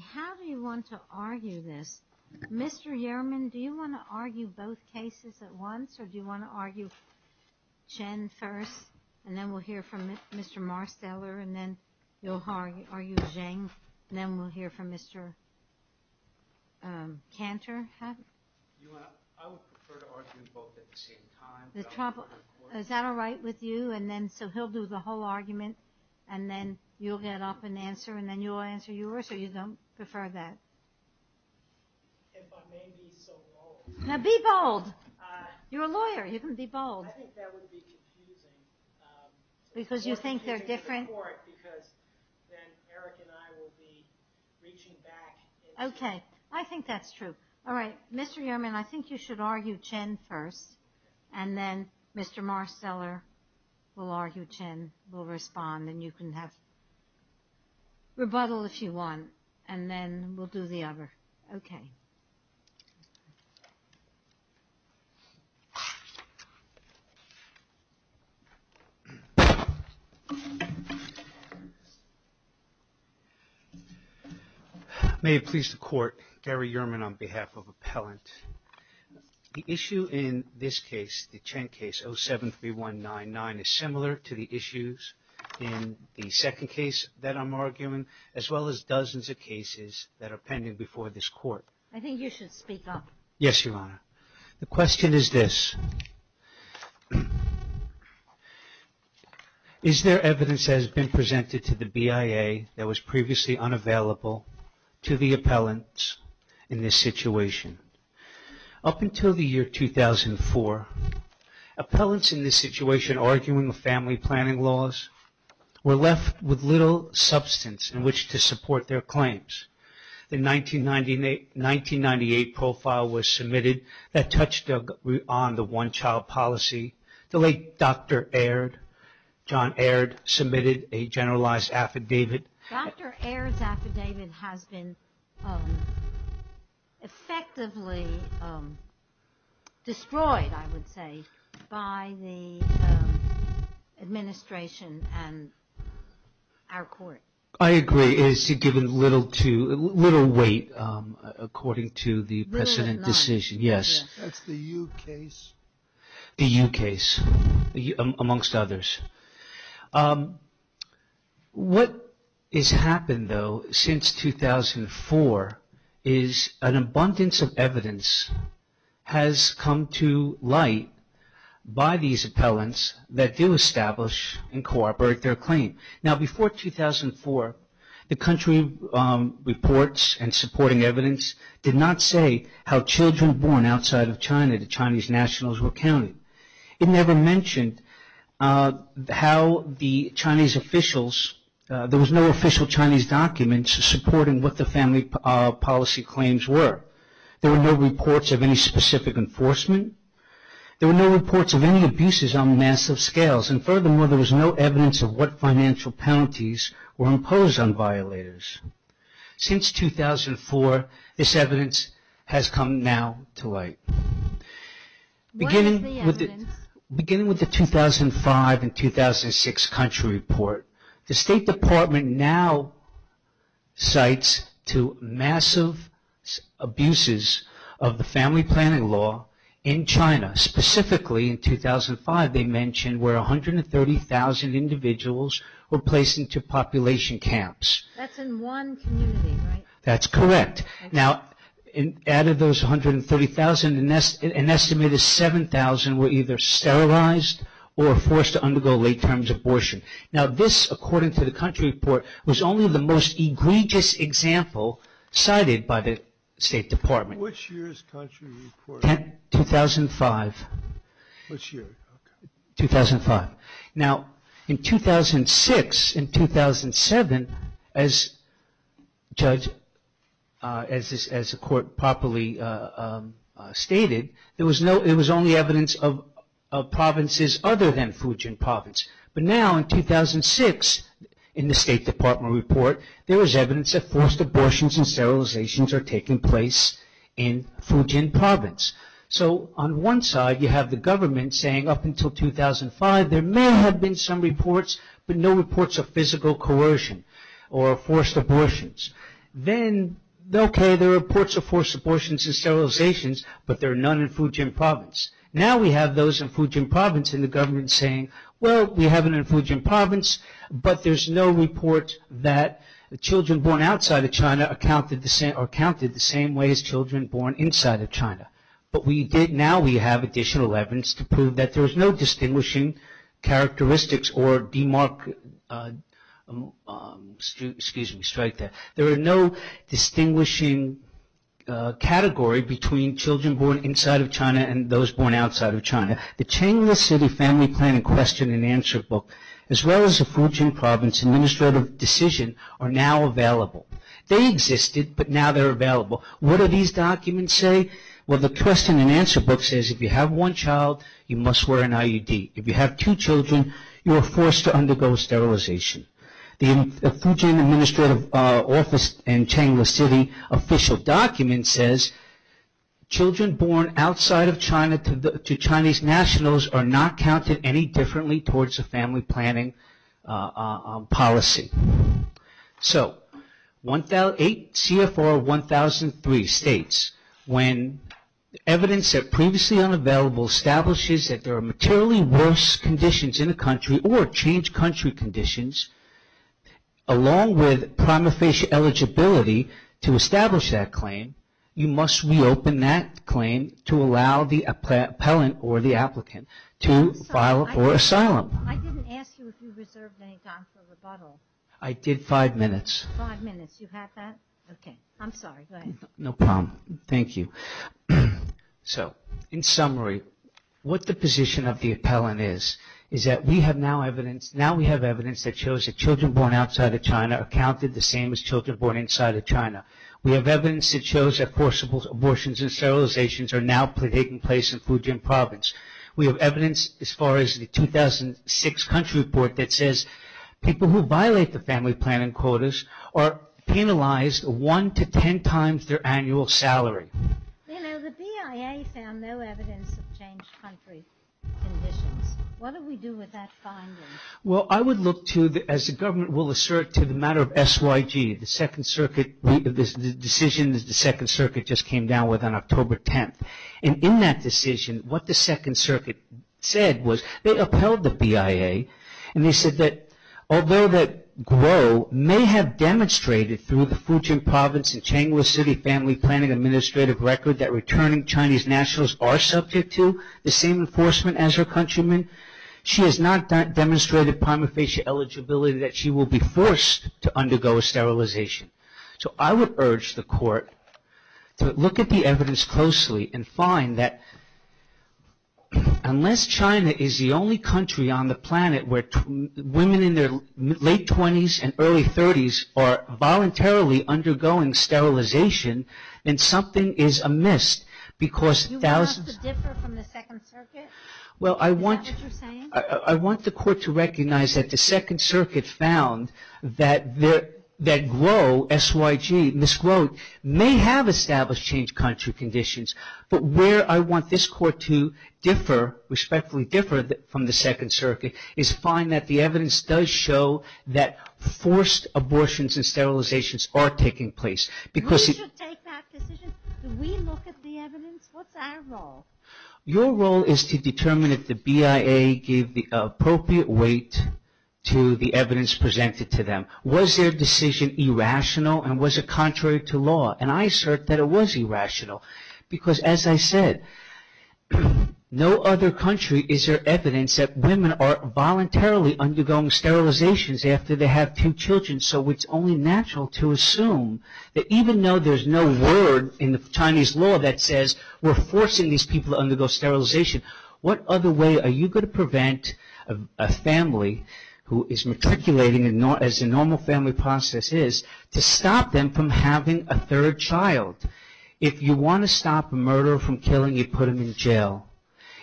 How do you want to argue this? Mr. Yerman, do you want to argue both cases at once, or do you want to argue Chen first, and then we'll hear from Mr. Marsteller, and then you'll argue Zheng, and then we'll hear from Mr. Cantor? I would prefer to argue both at the same time. Is that all right with you? So he'll do the whole argument, and then you'll get up and answer, and then you'll answer yours, or you don't prefer that? If I may be so bold. Now be bold! You're a lawyer, you can be bold. I think that would be confusing. Because you think they're different? I prefer it, because then Eric and I will be reaching back. Okay, I think that's true. All right, Mr. Yerman, I think you should argue Chen first, and then Mr. Marsteller will argue Chen, will respond, and you can rebuttal if you want, and then we'll do the other. Okay. May it please the Court, Gary Yerman on behalf of Appellant. The issue in this case, the Chen case, 07-3199, is similar to the issues in the second case that I'm arguing, as well as dozens of cases that are pending before this Court. I think you should speak up. Yes, Your Honor. The question is this. Is there evidence that has been presented to the BIA that was previously unavailable to the appellants in this situation? Up until the year 2004, appellants in this situation arguing with family planning laws were left with little substance in which to support their claims. The 1998 profile was submitted that touched on the one-child policy. The late Dr. Aird, John Aird, submitted a generalized affidavit. Dr. Aird's affidavit has been effectively destroyed, I would say, by the administration and our Court. I agree. It has given little weight according to the precedent decision. That's the U case. The U case, amongst others. What has happened, though, since 2004 is an abundance of evidence has come to light by these appellants that do establish and cooperate their claim. Now, before 2004, the country reports and supporting evidence did not say how children born outside of China to Chinese nationals were counted. It never mentioned how the Chinese officials, there was no official Chinese document supporting what the family policy claims were. There were no reports of any specific enforcement. There were no reports of any abuses on massive scales, and furthermore, there was no evidence of what financial penalties were imposed on violators. Since 2004, this evidence has come now to light. What is the evidence? Beginning with the 2005 and 2006 country report, the State Department now cites to massive abuses of the family planning law in China. Specifically, in 2005, they mentioned where 130,000 individuals were placed into population camps. That's in one community, right? That's correct. Now, out of those 130,000, an estimated 7,000 were either sterilized or forced to undergo late-terms abortion. Now, this, according to the country report, was only the most egregious example cited by the State Department. Which year's country report? 2005. Which year? 2005. Now, in 2006 and 2007, as the court properly stated, it was only evidence of provinces other than Fujian province. But now, in 2006, in the State Department report, there was evidence that forced abortions and sterilizations are taking place in Fujian province. So, on one side, you have the government saying, up until 2005, there may have been some reports, but no reports of physical coercion or forced abortions. Then, okay, there are reports of forced abortions and sterilizations, but there are none in Fujian province. Now, we have those in Fujian province and the government saying, well, we have it in Fujian province, but there's no report that children born outside of China are counted the same way as children born inside of China. But we did, now we have additional evidence to prove that there's no distinguishing characteristics or demark, excuse me, strike there. There are no distinguishing category between children born inside of China and those born outside of China. The Changler City Family Plan and Question and Answer book, as well as the Fujian province administrative decision, are now available. They existed, but now they're available. What do these documents say? Well, the question and answer book says, if you have one child, you must wear an IUD. If you have two children, you are forced to undergo sterilization. The Fujian administrative office and Changler City official document says, children born outside of China to Chinese nationals are not counted any differently towards a family planning policy. So, CFR 1003 states, when evidence that previously unavailable establishes that there are materially worse conditions in a country or change country conditions, along with prima facie eligibility to establish that claim, you must reopen that claim to allow the appellant or the applicant to file for asylum. I didn't ask you if you reserved any time for rebuttal. I did five minutes. Five minutes, you have that? Okay, I'm sorry, go ahead. No problem, thank you. So, in summary, what the position of the appellant is, is that we have now evidence, now we have evidence that shows that children born outside of China are counted the same as children born inside of China. We have evidence that shows that forcible abortions and sterilizations are now taking place in Fujian province. We have evidence as far as the 2006 country report that says, people who violate the family planning quotas are penalized one to ten times their annual salary. You know, the BIA found no evidence of change country conditions. What do we do with that finding? Well, I would look to, as the government will assert to the matter of SYG, the second circuit, the decision that the second circuit just came down with on October 10th. And in that decision, what the second circuit said was, they upheld the BIA and they said that, although that Guo may have demonstrated through the Fujian province and Changhua city family planning administrative record that returning Chinese nationals are subject to the same enforcement as her countrymen, she has not demonstrated prima facie eligibility that she will be forced to undergo a sterilization. So, I would urge the court to look at the evidence closely and find that unless China is the only country on the planet where women in their late twenties and early thirties are voluntarily undergoing sterilization, then something is amiss. You want us to differ from the second circuit? Is that what you're saying? I want the court to recognize that the second circuit found that Guo, SYG, Ms. Guo, may have established changed country conditions, but where I want this court to differ, respectfully differ from the second circuit, is find that the evidence does show that forced abortions and sterilizations are taking place. We should take that decision? Do we look at the evidence? What's our role? Your role is to determine if the BIA gave the appropriate weight to the evidence presented to them. Was their decision irrational and was it contrary to law? And I assert that it was irrational, because as I said, no other country is there evidence that women are voluntarily undergoing sterilizations after they have two children, so it's only natural to assume that even though there's no word in the Chinese law that says we're forcing these people to undergo sterilization, what other way are you going to prevent a family who is matriculating, as the normal family process is, to stop them from having a third child? If you want to stop a murderer from killing, you put him in jail.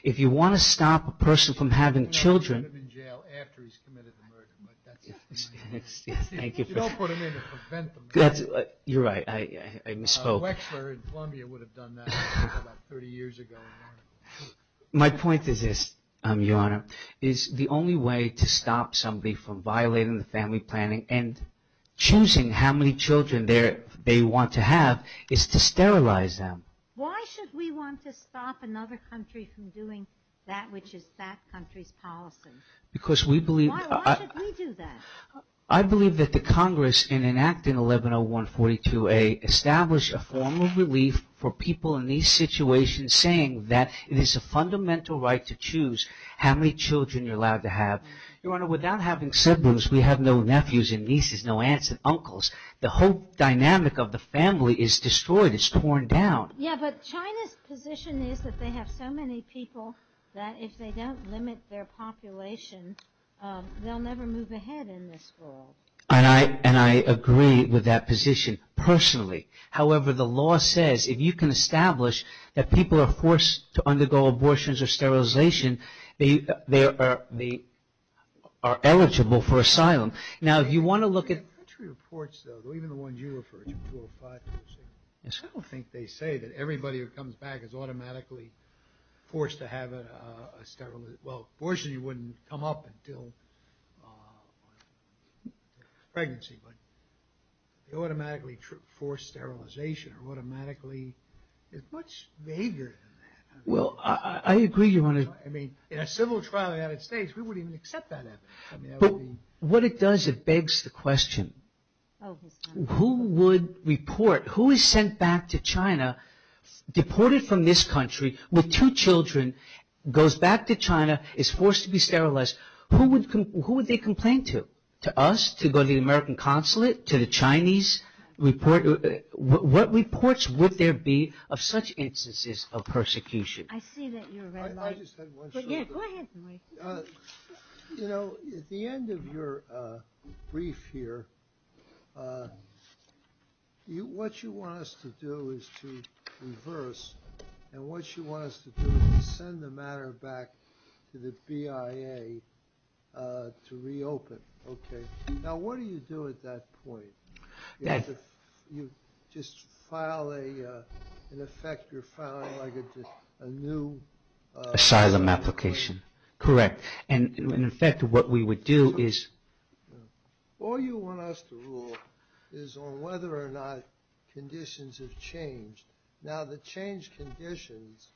If you want to stop a person from having children... You don't put him in jail after he's committed the murder, but that's... Thank you. You don't put him in to prevent the murder. You're right, I misspoke. Wechsler in Columbia would have done that about 30 years ago. My point is this, Your Honor, is the only way to stop somebody from violating the family planning and choosing how many children they want to have is to sterilize them. Why should we want to stop another country from doing that which is that country's policy? Because we believe... Why should we do that? I believe that the Congress in enacting 110142A established a form of relief for people in these situations saying that it is a fundamental right to choose how many children you're allowed to have. Your Honor, without having siblings, we have no nephews and nieces, no aunts and uncles. The whole dynamic of the family is destroyed. It's torn down. Yeah, but China's position is that they have so many people that if they don't limit their population, they'll never move ahead in this world. And I agree with that position personally. However, the law says if you can establish that people are forced to undergo abortions or sterilization, they are eligible for asylum. Now, if you want to look at... The country reports, though, even the ones you refer to, 205, I don't think they say that everybody who comes back is automatically forced to have a sterilization... Well, abortion wouldn't come up until pregnancy, but they automatically force sterilization or automatically... There's much vaguer than that. Well, I agree, Your Honor. I mean, in a civil trial in the United States, we wouldn't even accept that evidence. What it does, it begs the question, who would report... Who is sent back to China, deported from this country with two children, goes back to China, is forced to be sterilized? Who would they complain to? To us? To go to the American consulate? To the Chinese? What reports would there be of such instances of persecution? I see that you're... I just had one... Yeah, go ahead. You know, at the end of your brief here, what you want us to do is to reverse, and what you want us to do is to send the matter back to the BIA to reopen. Okay? Now, what do you do at that point? You just file a... In effect, you're filing like a new... Asylum application. Correct. And in effect, what we would do is... All you want us to rule is on whether or not conditions have changed. Now, the changed conditions,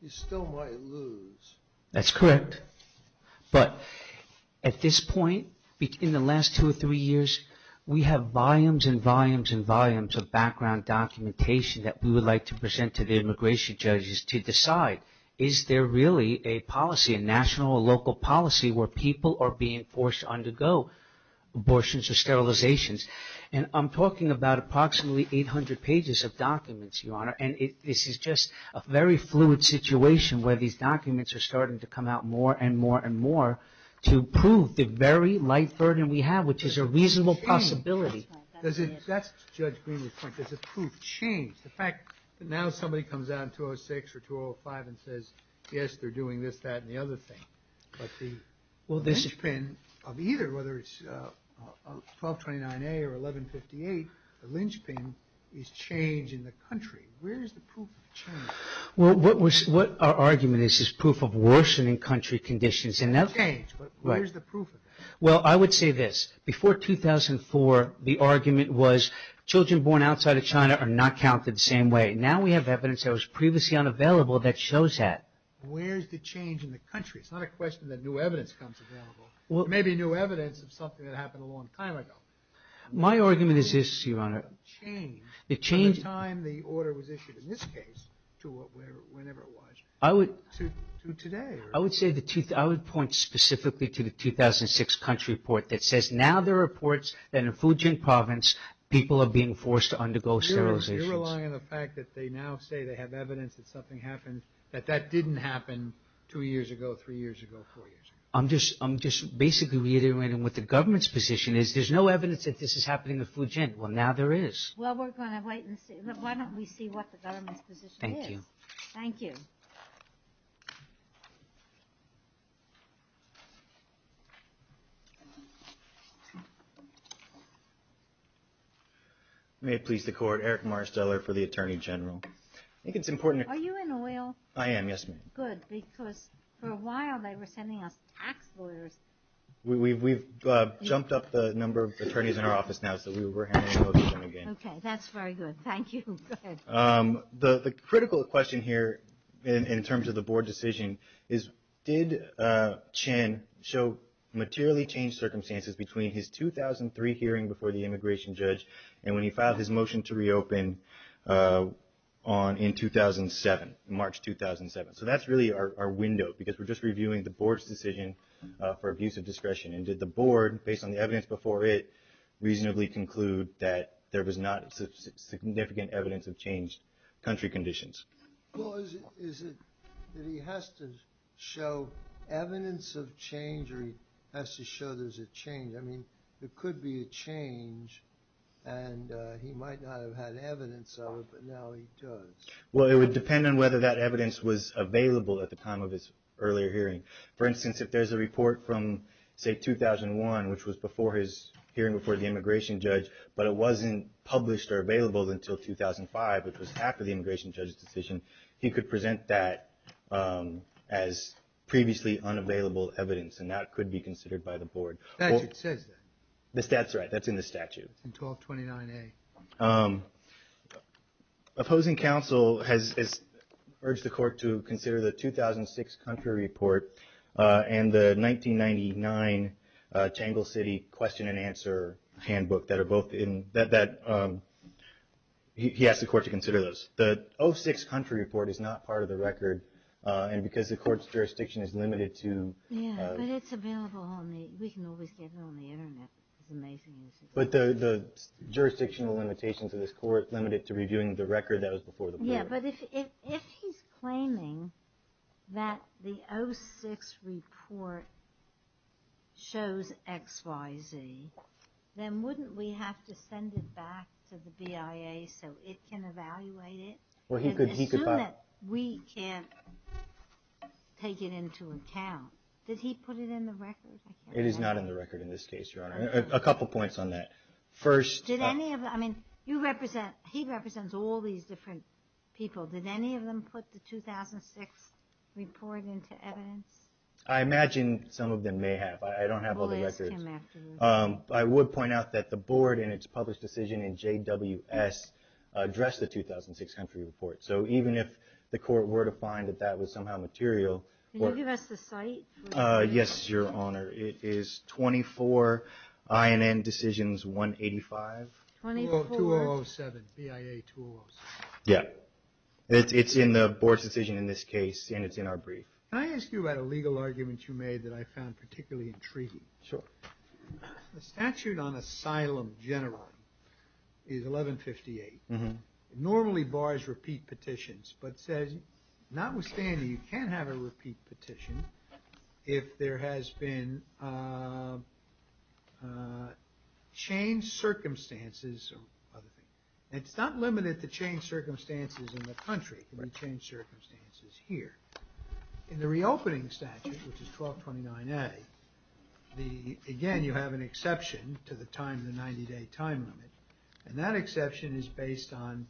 you still might lose. That's correct. But at this point, in the last two or three years, we have volumes and volumes and volumes of background documentation that we would like to present to the immigration judges to decide, is there really a policy, a national or local policy, where people are being forced to undergo abortions or sterilizations? And I'm talking about approximately 800 pages of documents, Your Honor, and this is just a very fluid situation where these documents are starting to come out more and more and more to prove the very light burden we have, which is a reasonable possibility. That's Judge Greene's point. Does the proof change? The fact that now somebody comes out in 2006 or 2005 and says, yes, they're doing this, that, and the other thing, but the linchpin of either, whether it's 1229A or 1158, the linchpin is change in the country. Where is the proof of change? Well, what our argument is is proof of worsening country conditions. Change, but where's the proof of that? Well, I would say this. Before 2004, the argument was children born outside of China are not counted the same way. Now we have evidence that was previously unavailable that shows that. Where's the change in the country? It's not a question that new evidence comes available. It may be new evidence of something that happened a long time ago. My argument is this, Your Honor. What changed from the time the order was issued, in this case, to whenever it was, to today? I would point specifically to the 2006 country report that says now there are reports that in Fujian province people are being forced to undergo sterilizations. You're relying on the fact that they now say they have evidence that something happened that that didn't happen two years ago, three years ago, four years ago. I'm just basically reiterating what the government's position is. There's no evidence that this is happening in Fujian. Well, now there is. Well, we're going to wait and see. Why don't we see what the government's position is? Thank you. Thank you. May it please the Court. Eric Marsteller for the Attorney General. Are you in oil? I am, yes, ma'am. Good, because for a while they were sending us tax lawyers. We've jumped up the number of attorneys in our office now so we were handing them over to them again. Okay, that's very good. Thank you. Go ahead. The critical question here in terms of the Board decision is, did Chen show materially changed circumstances between his 2003 hearing before the immigration judge and when he filed his motion to reopen in 2007, March 2007? So that's really our window because we're just reviewing the Board's decision for abuse of discretion. And did the Board, based on the evidence before it, reasonably conclude that there was not significant evidence of changed country conditions? Well, is it that he has to show evidence of change or he has to show there's a change? I mean, there could be a change and he might not have had evidence of it, but now he does. Well, it would depend on whether that evidence was available at the time of his earlier hearing. For instance, if there's a report from, say, 2001, which was before his hearing before the immigration judge, but it wasn't published or available until 2005, which was after the immigration judge's decision, he could present that as previously unavailable evidence, and that could be considered by the Board. The statute says that. That's right. That's in the statute. It's in 1229A. Opposing counsel has urged the court to consider the 2006 country report and the 1999 Tangle City question and answer handbook. He asked the court to consider those. The 06 country report is not part of the record, and because the court's jurisdiction is limited to the jurisdictional limitations of this court, limited to reviewing the record that was before the Board. Yeah, but if he's claiming that the 06 report shows XYZ, then wouldn't we have to send it back to the BIA so it can evaluate it? Assume that we can't take it into account. Did he put it in the record? It is not in the record in this case, Your Honor. A couple points on that. He represents all these different people. Did any of them put the 2006 report into evidence? I imagine some of them may have. I don't have all the records. I would point out that the Board, in its published decision in JWS, addressed the 2006 country report. So even if the court were to find that that was somehow material. Can you give us the site? Yes, Your Honor. It is 24 INN Decisions 185. 2007, BIA 2007. Yeah. It's in the Board's decision in this case, and it's in our brief. Can I ask you about a legal argument you made that I found particularly intriguing? Sure. The statute on asylum generally is 1158. It normally bars repeat petitions, but says notwithstanding, you can't have a repeat petition if there has been changed circumstances or other things. It's not limited to changed circumstances in the country. It can be changed circumstances here. In the reopening statute, which is 1229A, again, you have an exception to the 90-day time limit, and that exception is based on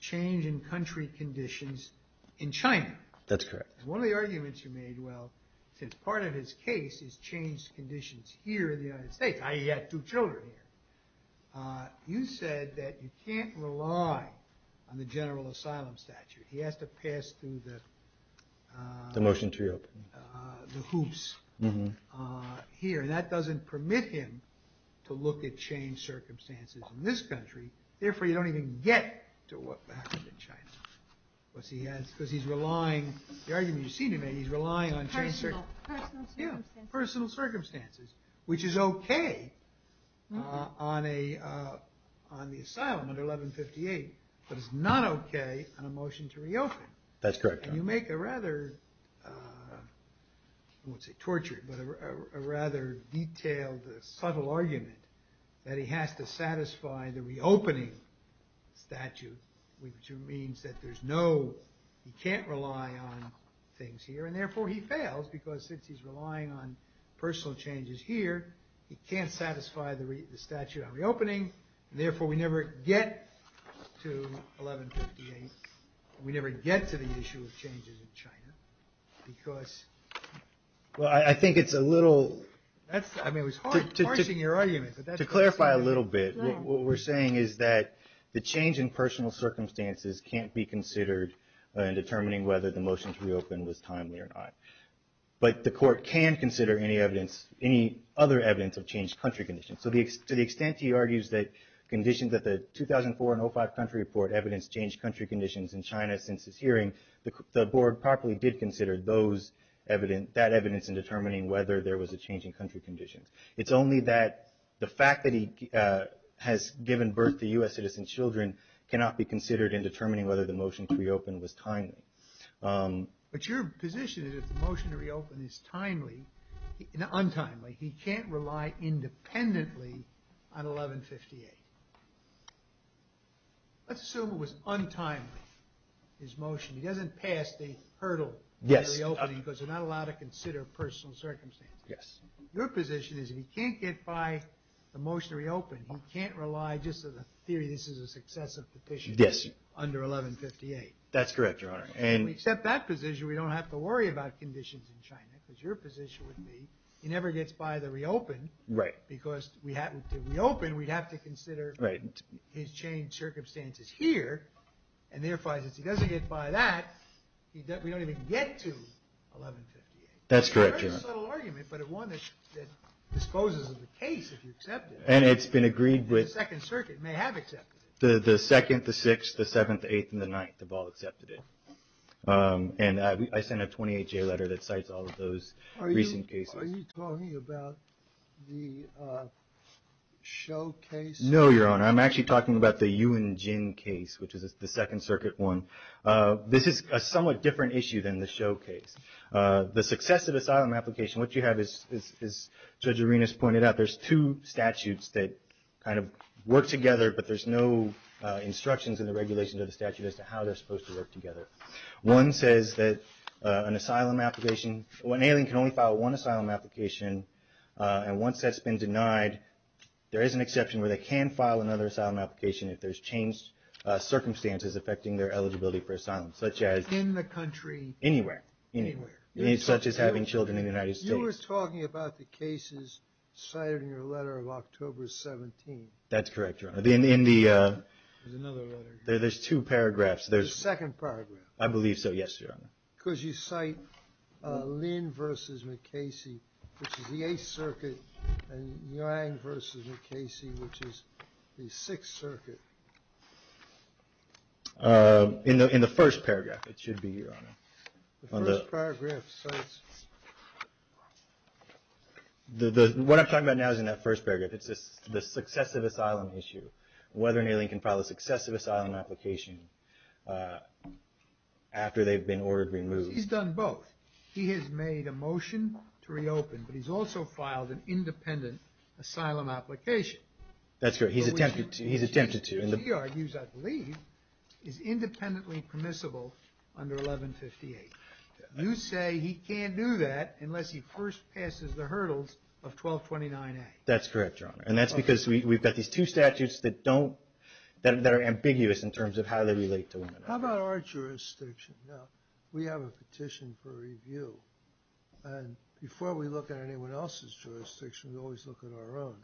change in country conditions in China. That's correct. One of the arguments you made, well, since part of his case is changed conditions here in the United States. He had two children here. You said that you can't rely on the general asylum statute. He has to pass through the... The motion to reopen. ...the hoops here, and that doesn't permit him to look at changed circumstances in this country. Therefore, you don't even get to what happened in China. Because he's relying, the argument you seem to make, he's relying on... Personal circumstances. Yeah, personal circumstances, which is okay on the asylum under 1158, but it's not okay on a motion to reopen. That's correct. And you make a rather, I won't say tortured, but a rather detailed, subtle argument that he has to satisfy the reopening statute, which means that there's no, he can't rely on things here, and therefore he fails, because since he's relying on personal changes here, he can't satisfy the statute on reopening, and therefore we never get to 1158. We never get to the issue of changes in China, because... Well, I think it's a little... I mean, it was harsh in your argument, but that's... To clarify a little bit, what we're saying is that the change in personal circumstances can't be considered in determining whether the motion to reopen was timely or not. But the court can consider any evidence, any other evidence of changed country conditions. So to the extent he argues that conditions, that the 2004 and 05 country report evidence changed country conditions in China since his hearing, the board properly did consider those evidence, that evidence in determining whether there was a change in country conditions. It's only that the fact that he has given birth to U.S. citizen children cannot be considered in determining whether the motion to reopen was timely. But your position is if the motion to reopen is timely, not untimely, he can't rely independently on 1158. Let's assume it was untimely, his motion. He doesn't pass the hurdle of reopening because you're not allowed to consider personal circumstances. Yes. Your position is if he can't get by the motion to reopen, he can't rely just on the theory this is a successive petition under 1158. That's correct, Your Honor. Except that position, we don't have to worry about conditions in China because your position would be he never gets by the reopen because to reopen we'd have to consider his changed circumstances here and therefore as he doesn't get by that, we don't even get to 1158. That's correct, Your Honor. It's a subtle argument, but one that disposes of the case if you accept it. And it's been agreed with... The Second Circuit may have accepted it. The Second, the Sixth, the Seventh, the Eighth, and the Ninth have all accepted it. And I sent a 28-J letter that cites all of those recent cases. Are you talking about the Shou case? No, Your Honor. I'm actually talking about the Yuan Jin case, which is the Second Circuit one. This is a somewhat different issue than the Shou case. The successive asylum application, what you have is, as Judge Arenas pointed out, there's two statutes that kind of work together, but there's no instructions in the regulations of the statute as to how they're supposed to work together. One says that an asylum application, an alien can only file one asylum application, and once that's been denied, there is an exception where they can file another asylum application if there's changed circumstances affecting their eligibility for asylum, such as... such as having children in the United States. You were talking about the cases cited in your letter of October 17. That's correct, Your Honor. In the... There's another letter here. There's two paragraphs. The second paragraph. I believe so, yes, Your Honor. Because you cite Lin v. McKaysey, which is the Eighth Circuit, and Yang v. McKaysey, which is the Sixth Circuit. In the first paragraph, it should be, Your Honor. The first paragraph says... What I'm talking about now is in that first paragraph. It's the successive asylum issue, whether an alien can file a successive asylum application after they've been ordered removed. He's done both. He has made a motion to reopen, but he's also filed an independent asylum application. That's correct. He's attempted to. He argues, I believe, is independently permissible under 1158. You say he can't do that unless he first passes the hurdles of 1229A. That's correct, Your Honor. And that's because we've got these two statutes that don't... that are ambiguous in terms of how they relate to women. How about our jurisdiction? Now, we have a petition for review, and before we look at anyone else's jurisdiction, we always look at our own.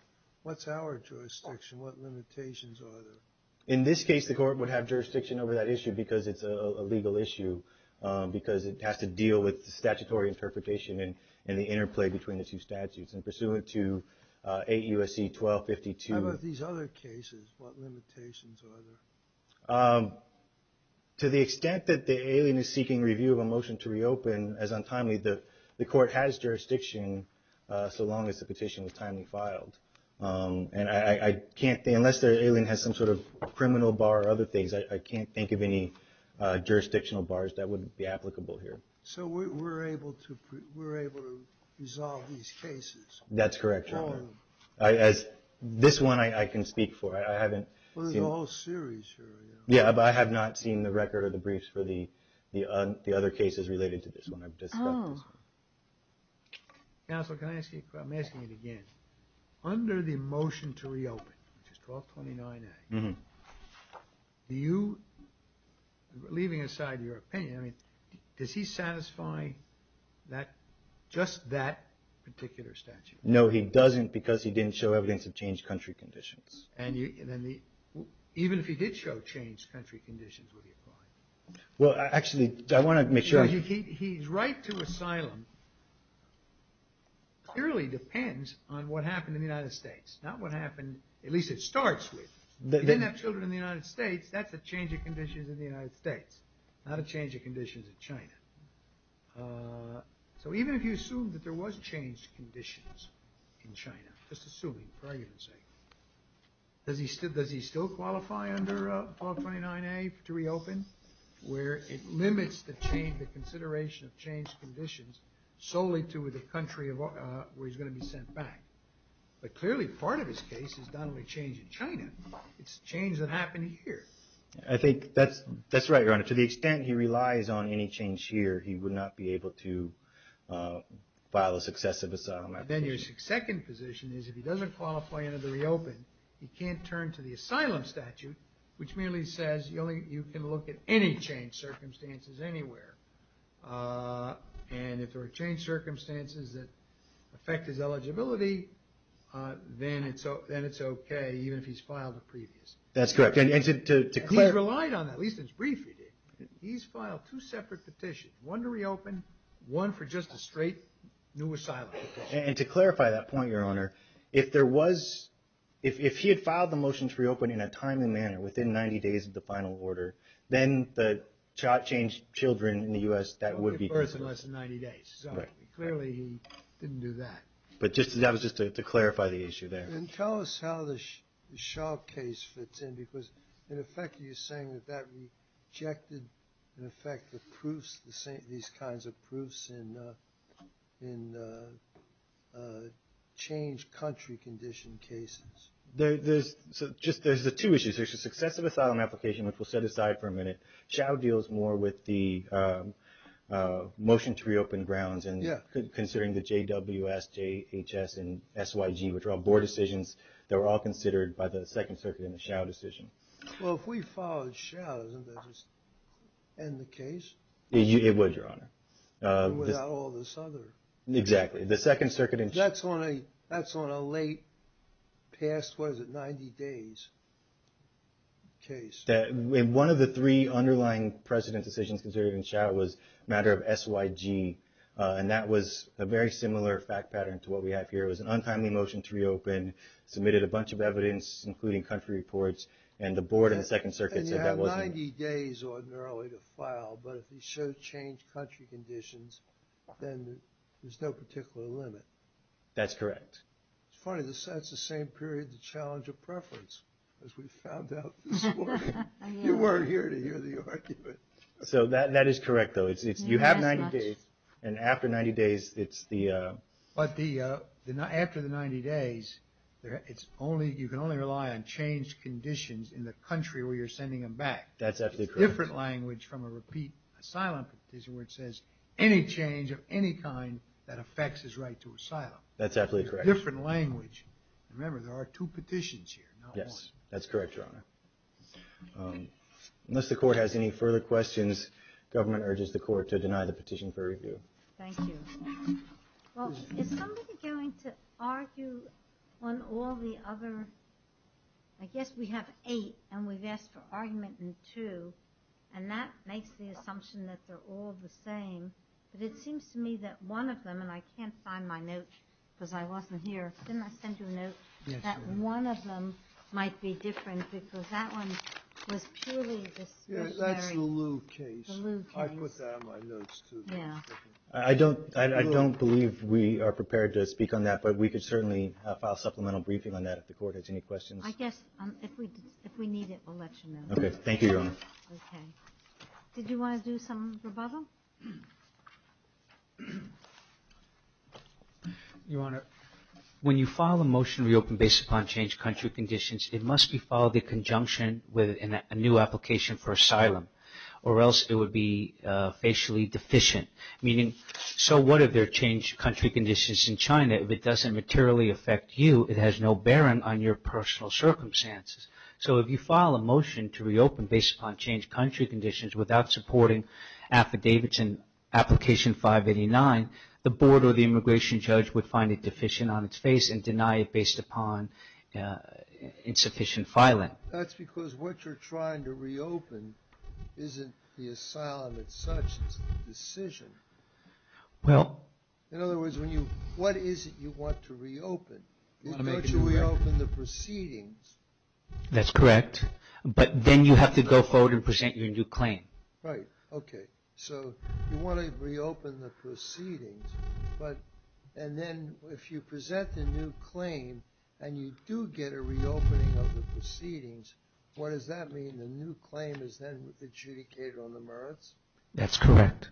What's our jurisdiction? What limitations are there? In this case, the court would have jurisdiction over that issue because it's a legal issue, because it has to deal with statutory interpretation and the interplay between the two statutes. And pursuant to 8 U.S.C. 1252... How about these other cases? What limitations are there? To the extent that the alien is seeking review of a motion to reopen as untimely, the court has jurisdiction so long as the petition is timely filed. And I can't... unless the alien has some sort of criminal bar or other things, I can't think of any jurisdictional bars that would be applicable here. So we're able to resolve these cases? That's correct, Your Honor. Oh. This one I can speak for. I haven't seen... Well, there's a whole series here. Yeah, but I have not seen the record or the briefs for the other cases related to this one. I've discussed this one. Oh. Counsel, can I ask you... I'm asking it again. Under the motion to reopen, which is 1229A, do you... Leaving aside your opinion, I mean, does he satisfy that... just that particular statute? No, he doesn't because he didn't show evidence of changed country conditions. And you... Even if he did show changed country conditions, would he apply? Well, actually, I want to make sure... He's right to asylum. Clearly depends on what happened in the United States, not what happened... At least it starts with. He didn't have children in the United States. That's a change of conditions in the United States, not a change of conditions in China. So even if you assume that there was changed conditions in China, just assuming pregnancy, does he still qualify under 1229A to reopen where it limits the change, the consideration of changed conditions solely to the country where he's going to be sent back? But clearly part of his case is not only change in China, it's change that happened here. I think that's right, Your Honor. To the extent he relies on any change here, he would not be able to file a successive asylum application. Then your second position is if he doesn't qualify under the reopen, he can't turn to the asylum statute, which merely says you can look at any changed circumstances anywhere. And if there are changed circumstances that affect his eligibility, then it's okay even if he's filed a previous. That's correct. He's relied on that, at least in his brief he did. He's filed two separate petitions, one to reopen, one for just a straight new asylum application. And to clarify that point, Your Honor, if there was, if he had filed the motion to reopen in a timely manner within 90 days of the final order, then the child changed children in the U.S. that would be personal. Less than 90 days. So clearly he didn't do that. But that was just to clarify the issue there. And tell us how the Schau case fits in because in effect you're saying that that rejected in effect the proofs, these kinds of proofs in changed country condition cases. There's just, there's the two issues. There's the successive asylum application, which we'll set aside for a minute. Schau deals more with the motion to reopen grounds and considering the JWS, JHS, and SYG, which are all board decisions that were all considered by the Second Circuit in the Schau decision. Well, if we followed Schau, doesn't that just end the case? It would, Your Honor. Without all this other... Exactly. The Second Circuit... That's on a late, past, what is it, 90 days case. One of the three underlying precedent decisions considered in Schau was a matter of SYG. And that was a very similar fact pattern to what we have here. It was an untimely motion to reopen, submitted a bunch of evidence including country reports, and the board in the Second Circuit said that wasn't... And you have 90 days ordinarily to file, but if you show changed country conditions, then there's no particular limit. That's correct. It's funny. That's the same period the challenge of preference as we found out this morning. You weren't here to hear the argument. So that is correct, though. You have 90 days, and after 90 days, it's the... But after the 90 days, you can only rely on changed conditions in the country where you're sending them back. That's absolutely correct. It's a different language from a repeat asylum petition where it says any change of any kind that affects his right to asylum. That's absolutely correct. It's a different language. Remember, there are two petitions here, not one. Yes. That's correct, Your Honor. Unless the court has any further questions, government urges the court to deny the petition for review. Thank you. Well, is somebody going to argue on all the other... I guess we have eight, and we've asked for argument in two, and that makes the assumption that they're all the same. But it seems to me that one of them, and I can't find my note because I wasn't here. Didn't I send you a note? Yes, you did. That one of them might be different because that one was purely... Yes, that's the Lew case. The Lew case. I put that in my notes, too. Yeah. I don't believe we are prepared to speak on that, but we could certainly file a supplemental briefing on that if the court has any questions. I guess if we need it, we'll let you know. Okay. Okay. Did you want to do some rebuttal? Your Honor, when you file a motion to reopen based upon changed country conditions, you have to have a motion that says based upon changed country conditions, it must be filed in conjunction with a new application for asylum or else it would be facially deficient. Meaning, so what if there are changed country conditions in China? If it doesn't materially affect you, it has no bearing on your personal circumstances. So if you file a motion to reopen based upon changed country conditions without supporting affidavits and application 589, the board or the immigration judge would find it deficient on its face and deny it based upon insufficient filing. That's because what you're trying to reopen isn't the asylum as such. It's a decision. Well... In other words, when you... What is it you want to reopen? You want to reopen the proceedings. That's correct. But then you have to go forward and present your new claim. Right. Okay. So you want to reopen the proceedings but... and then if you present the new claim and you do get a reopening of the proceedings, what does that mean? The new claim is then adjudicated on the merits? That's correct.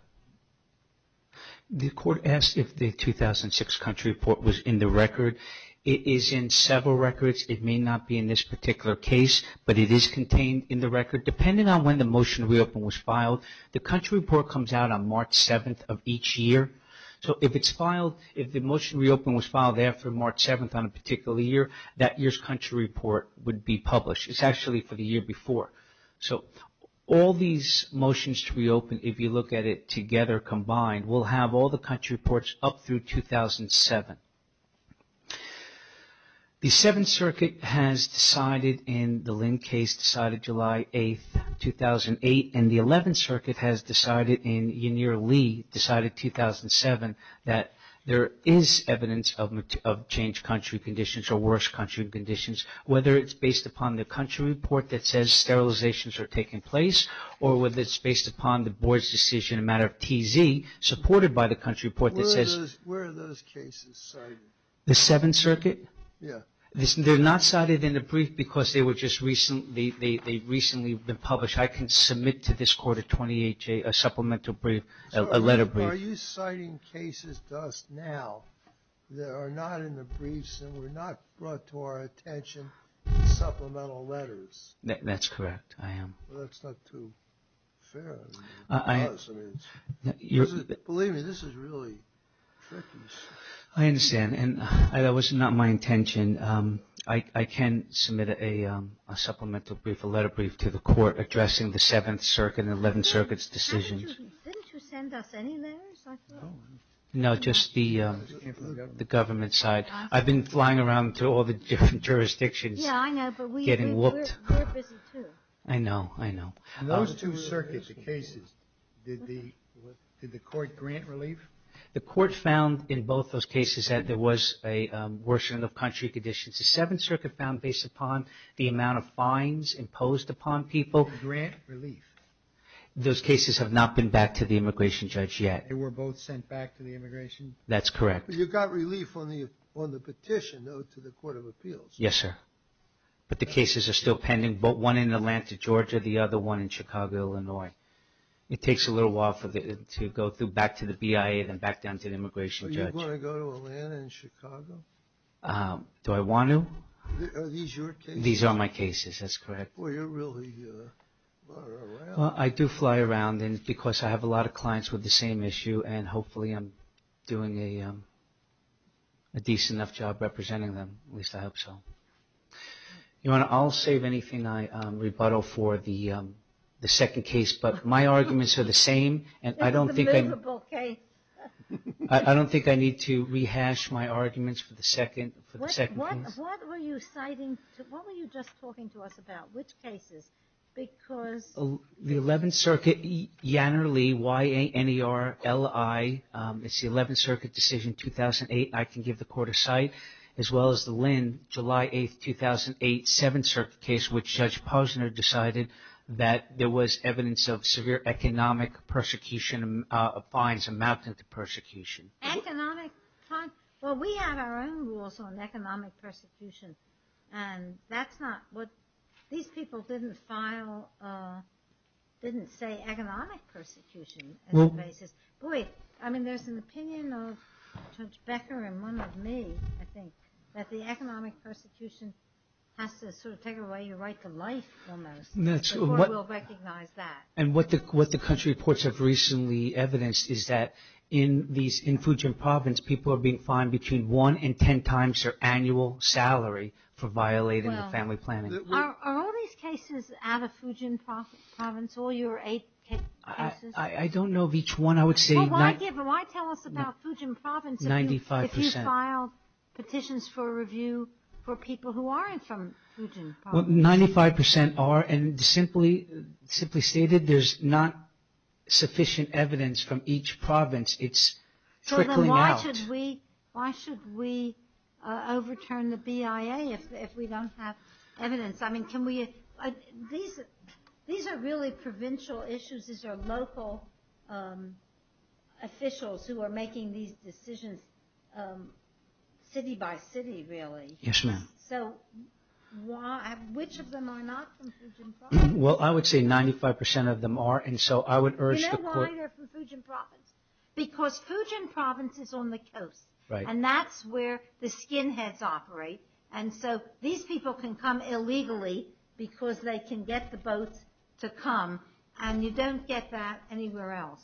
The court asked if the 2006 country report was in the record. It is in several records. It may not be in this particular case but it is contained in the record. Depending on when the motion to reopen was filed, the country report comes out on March 7th of each year. So if it's filed... if it's filed on March 7th on a particular year, that year's country report would be published. It's actually for the year before. So all these motions to reopen if you look at it together, combined, will have all the country reports up through 2007. The 7th Circuit has decided decided July 8th, 2008 and the 11th Circuit has decided in Yenier Lee decided 2007 that there is evidence of... of genuine evidence of unchanged country conditions or worse country conditions whether it's based upon the country report that says sterilizations are taking place or whether it's based upon the Board's decision in a matter of TZ supported by the country report that says... Where are those cases cited? The 7th Circuit? Yeah. They're not cited in the brief because they were just recently... they've recently been published. I can submit to this Court a 28-J... a supplemental brief... a letter brief. Are you citing cases to us now that are not in the briefs and were not brought to our attention in supplemental letters? That's correct. I am. That's not too fair. I... Believe me, this is really tricky. I understand and that was not my intention. I can submit a supplemental brief, a letter brief to the Court addressing the 7th Circuit and the 11th Circuit's decisions. Didn't you send us any letters? No, just the government side. I've been flying around to all the different jurisdictions getting whooped. Yeah, I know, but we're busy too. I know. I know. Those two circuits, the cases, did the Court grant relief? The Court found in both those cases that there was a worsening of country conditions. The 7th Circuit found based upon the amount of upon people... Did the Court grant relief? Those cases have not been back to the Immigration Judge yet. They were both sent back to the Immigration... That's correct. But you got relief on the petition though to the Court of Appeals. Yes, sir. But the cases are still pending, one in Atlanta, Georgia, the other one in Chicago, Illinois. It takes a little while to go back to the BIA and then back down to the Court of Appeals. Are these your cases? These are my cases. That's correct. Boy, you really are around. Well, I do fly around because I have a lot of clients with the same issue and hopefully I'm doing a decent enough job representing them, at least I hope so. I'll save anything I rebuttal for the second case, but my arguments are the same and I don't think I need to rehash my arguments. What were you just talking to us about? Which cases? The 11th Circuit, Yanner, Lee, Y-A-N-E-R-L-I, it's the 11th Circuit decision 2008, I can give the Court a cite, as well as the Lynn, July 8th, 2008, 7th Circuit case, which Judge Posner decided that there was evidence of severe economic persecution of fines amounting to persecution. Economic there are their own rules on economic persecution and that's not what, these people didn't file, didn't say economic persecution as a basis. Boy, I mean there's an opinion of Judge Becker and one of me, I think, that the economic persecution has to sort of take away your right to life almost. The Court will recognize that. And what the country reports have recently evidenced is that in these, in Fujian Province people are being fined between 1 and 10 times their annual salary for violating the family Are all these cases out of Fujian Province, all your 8 cases? I don't know of each one. I would say 95%. Well, why there's not sufficient evidence from each province, it's trickling out. So then why should we overturn the BIA if we don't have evidence? I mean, can we, these are really provincial issues, these are local officials who are making these decisions city by city really. Yes, ma'am. So, which of them are not from Fujian Province? Well, I would say 95% of them are, and so I would urge the court... You know why they're from Fujian Province? Because Fujian Province is on the coast. Right. And that's where the skinheads operate, and so these people can come illegally because they can get the boats to come, and you don't get that anywhere else.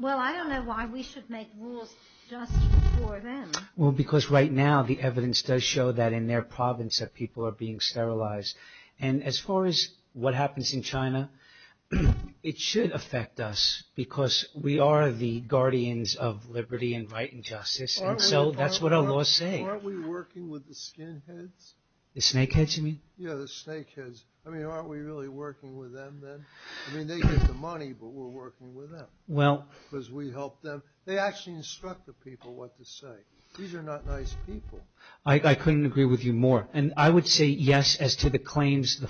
Well, I don't know why we should make rules just for them. Well, because right now the evidence does show that in their province that people are being sterilized, and as far as what happens in China, it should affect us because we are the guardians of liberty and right and justice, and so that's what our laws say. Aren't we working with the skinheads? The snakeheads you mean? Yeah, the snakeheads. I mean, aren't we really working with them then? I mean, they get the money, but we're working with them because we help them. They actually instruct the people what to say. These are not nice people. I couldn't agree with you more, and I would say yes as to the claims, the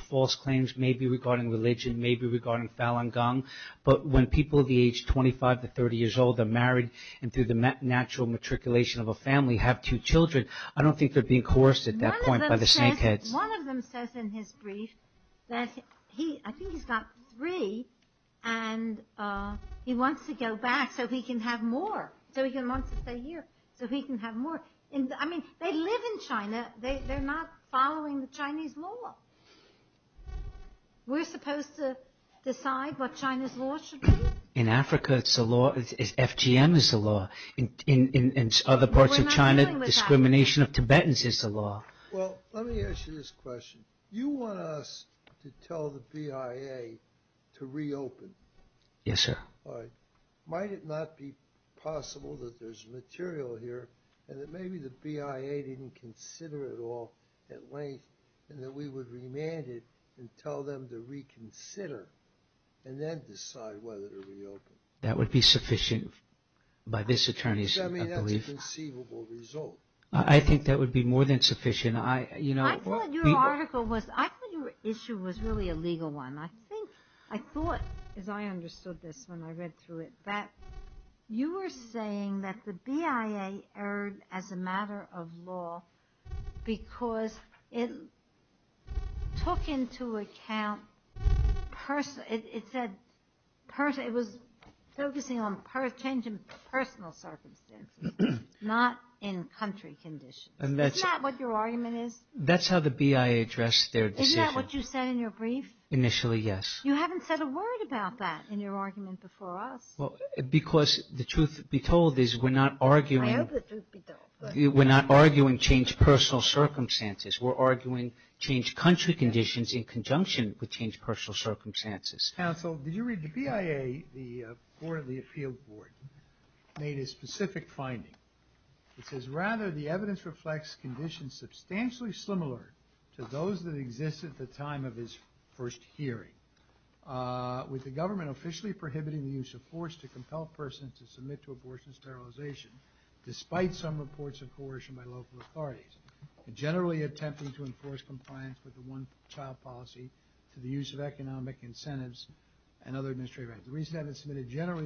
snakeheads. One of them says in his brief that he's got three and he wants to go back so he can have more, so he can want to stay here, so he can have more. I mean, they live in China. They're not following the Chinese law. We're supposed to decide what China's laws should be. In Africa, FGM is the law. In other parts of China, discrimination of Tibetans is the law. Well, let me ask you this question. You want us to tell the BIA to reopen. Yes, sir. All right. Might it not be possible that there's material here and that maybe the BIA didn't consider it all at length and that we would remand it and tell them to reconsider and then decide whether to reopen? I think that would be sufficient by this attorney's belief. I mean, that's a conceivable result. I think that would be more than sufficient. I thought your issue was really a legal one. I thought, as I understood this when I read through it, that you were saying that the BIA erred as a matter of law because it took into account personal circumstances, not in country conditions. Isn't that what your argument is? That's how the BIA addressed their decision. Isn't that what you said in your brief? Initially, yes. You haven't said a word about that in your argument before us. Because the truth be told is we're not arguing change personal circumstances. We're arguing change country conditions in which the BIA made a specific finding. It says, rather, the evidence reflects conditions substantially similar to those that exist at the time of his first hearing with the government officially prohibiting the use of force to compel persons to submit to the BIA. It generally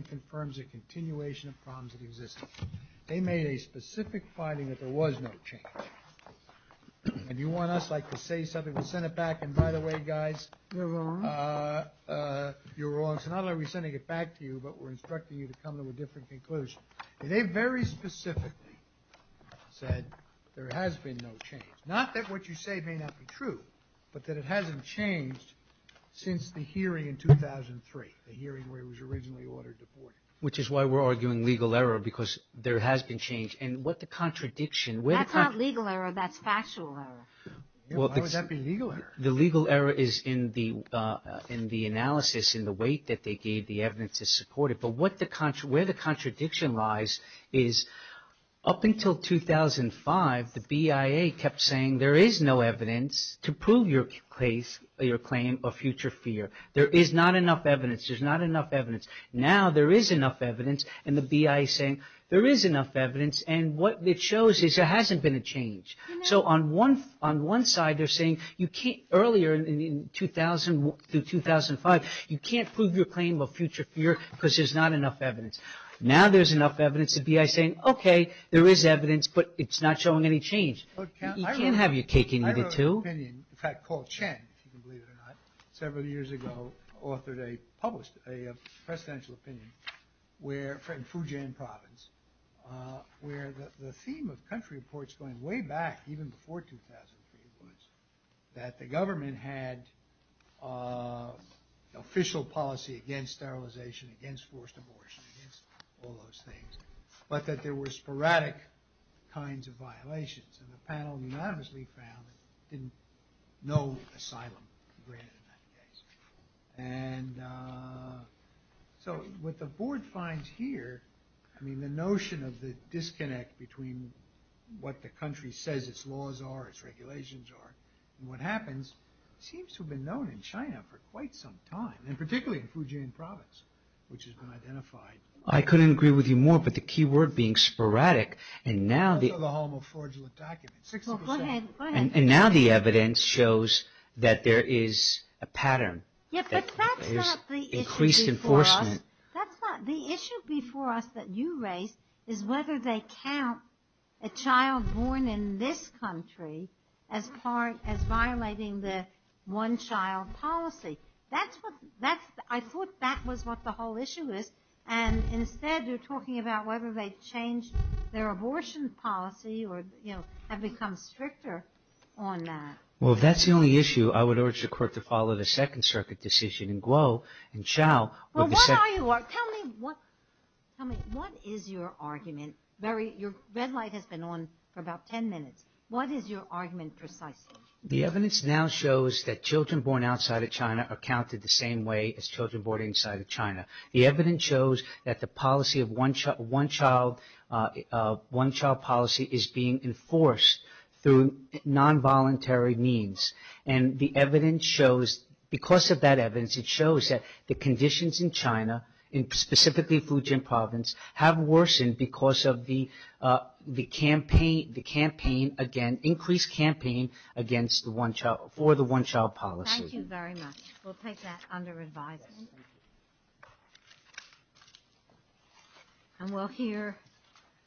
confirms a continuation of problems that exist. They made a specific finding that there was no change. And you want us like to say something, we'll send it back, and by the way guys, you're wrong. So not only are we sending it back to you, but we're instructing you to come to a different conclusion. They very specifically said there has been no change. Not that what you say may not be true, but that it hasn't changed since the hearing in 2003, the hearing where it was originally ordered deported. Which is why we're arguing legal error because there has been no change. And what the contradiction... That's not legal error, that's factual error. Why would that be legal error? The legal error is in the analysis, in the weight that they gave the evidence to support it. But where the contradiction lies is up until 2005, the BIA kept saying there is no evidence to prove your claim of future fear. There is not enough evidence. There's not enough evidence. Now there is enough evidence and the BIA is saying there is enough evidence and what it shows is there hasn't been a change. So on one side they're saying earlier in 2000 to 2005 you can't prove your claim of future fear because there's not enough evidence. Now there's enough evidence and the BIA is saying okay there is evidence but it's not showing any change. You can't have your cake and eat it too. I wrote an opinion, in fact called Chen, if you can believe it or not, several years ago published a presidential opinion where, in Fujian province, where the theme of country reports going way back even before 2003 was that the government had official policy against sterilization, against forced abortion, against all those things, but that there were sporadic kinds of violations and the panel unanimously found that there was no asylum granted in that case. And so what the board finds here, I mean the notion of the disconnect between what the country says its laws are, its regulations are, and what happens seems known in China for quite some time and particularly in Fujian province which has been identified. I couldn't agree with you more but the key word being that there was a pattern, increased enforcement. The issue before us that you raised is whether they count a child born in this country as violating the one-child policy. I thought that was what the whole issue is and instead you're talking about whether they changed their abortion policy or have become stricter on that. Well if that's the only issue I would urge the court to follow the second circuit decision. Tell me what is your argument? Your red light has been on for about ten minutes. What is your argument precisely? The evidence now shows that children born outside of China are counted the same way as children of the United States. The evidence shows that the conditions in China and specifically Fujian province have worsened because of the increased campaign for the one-child policy. Thank you very much. We'll take that under advisement. And we'll hear you Thank you.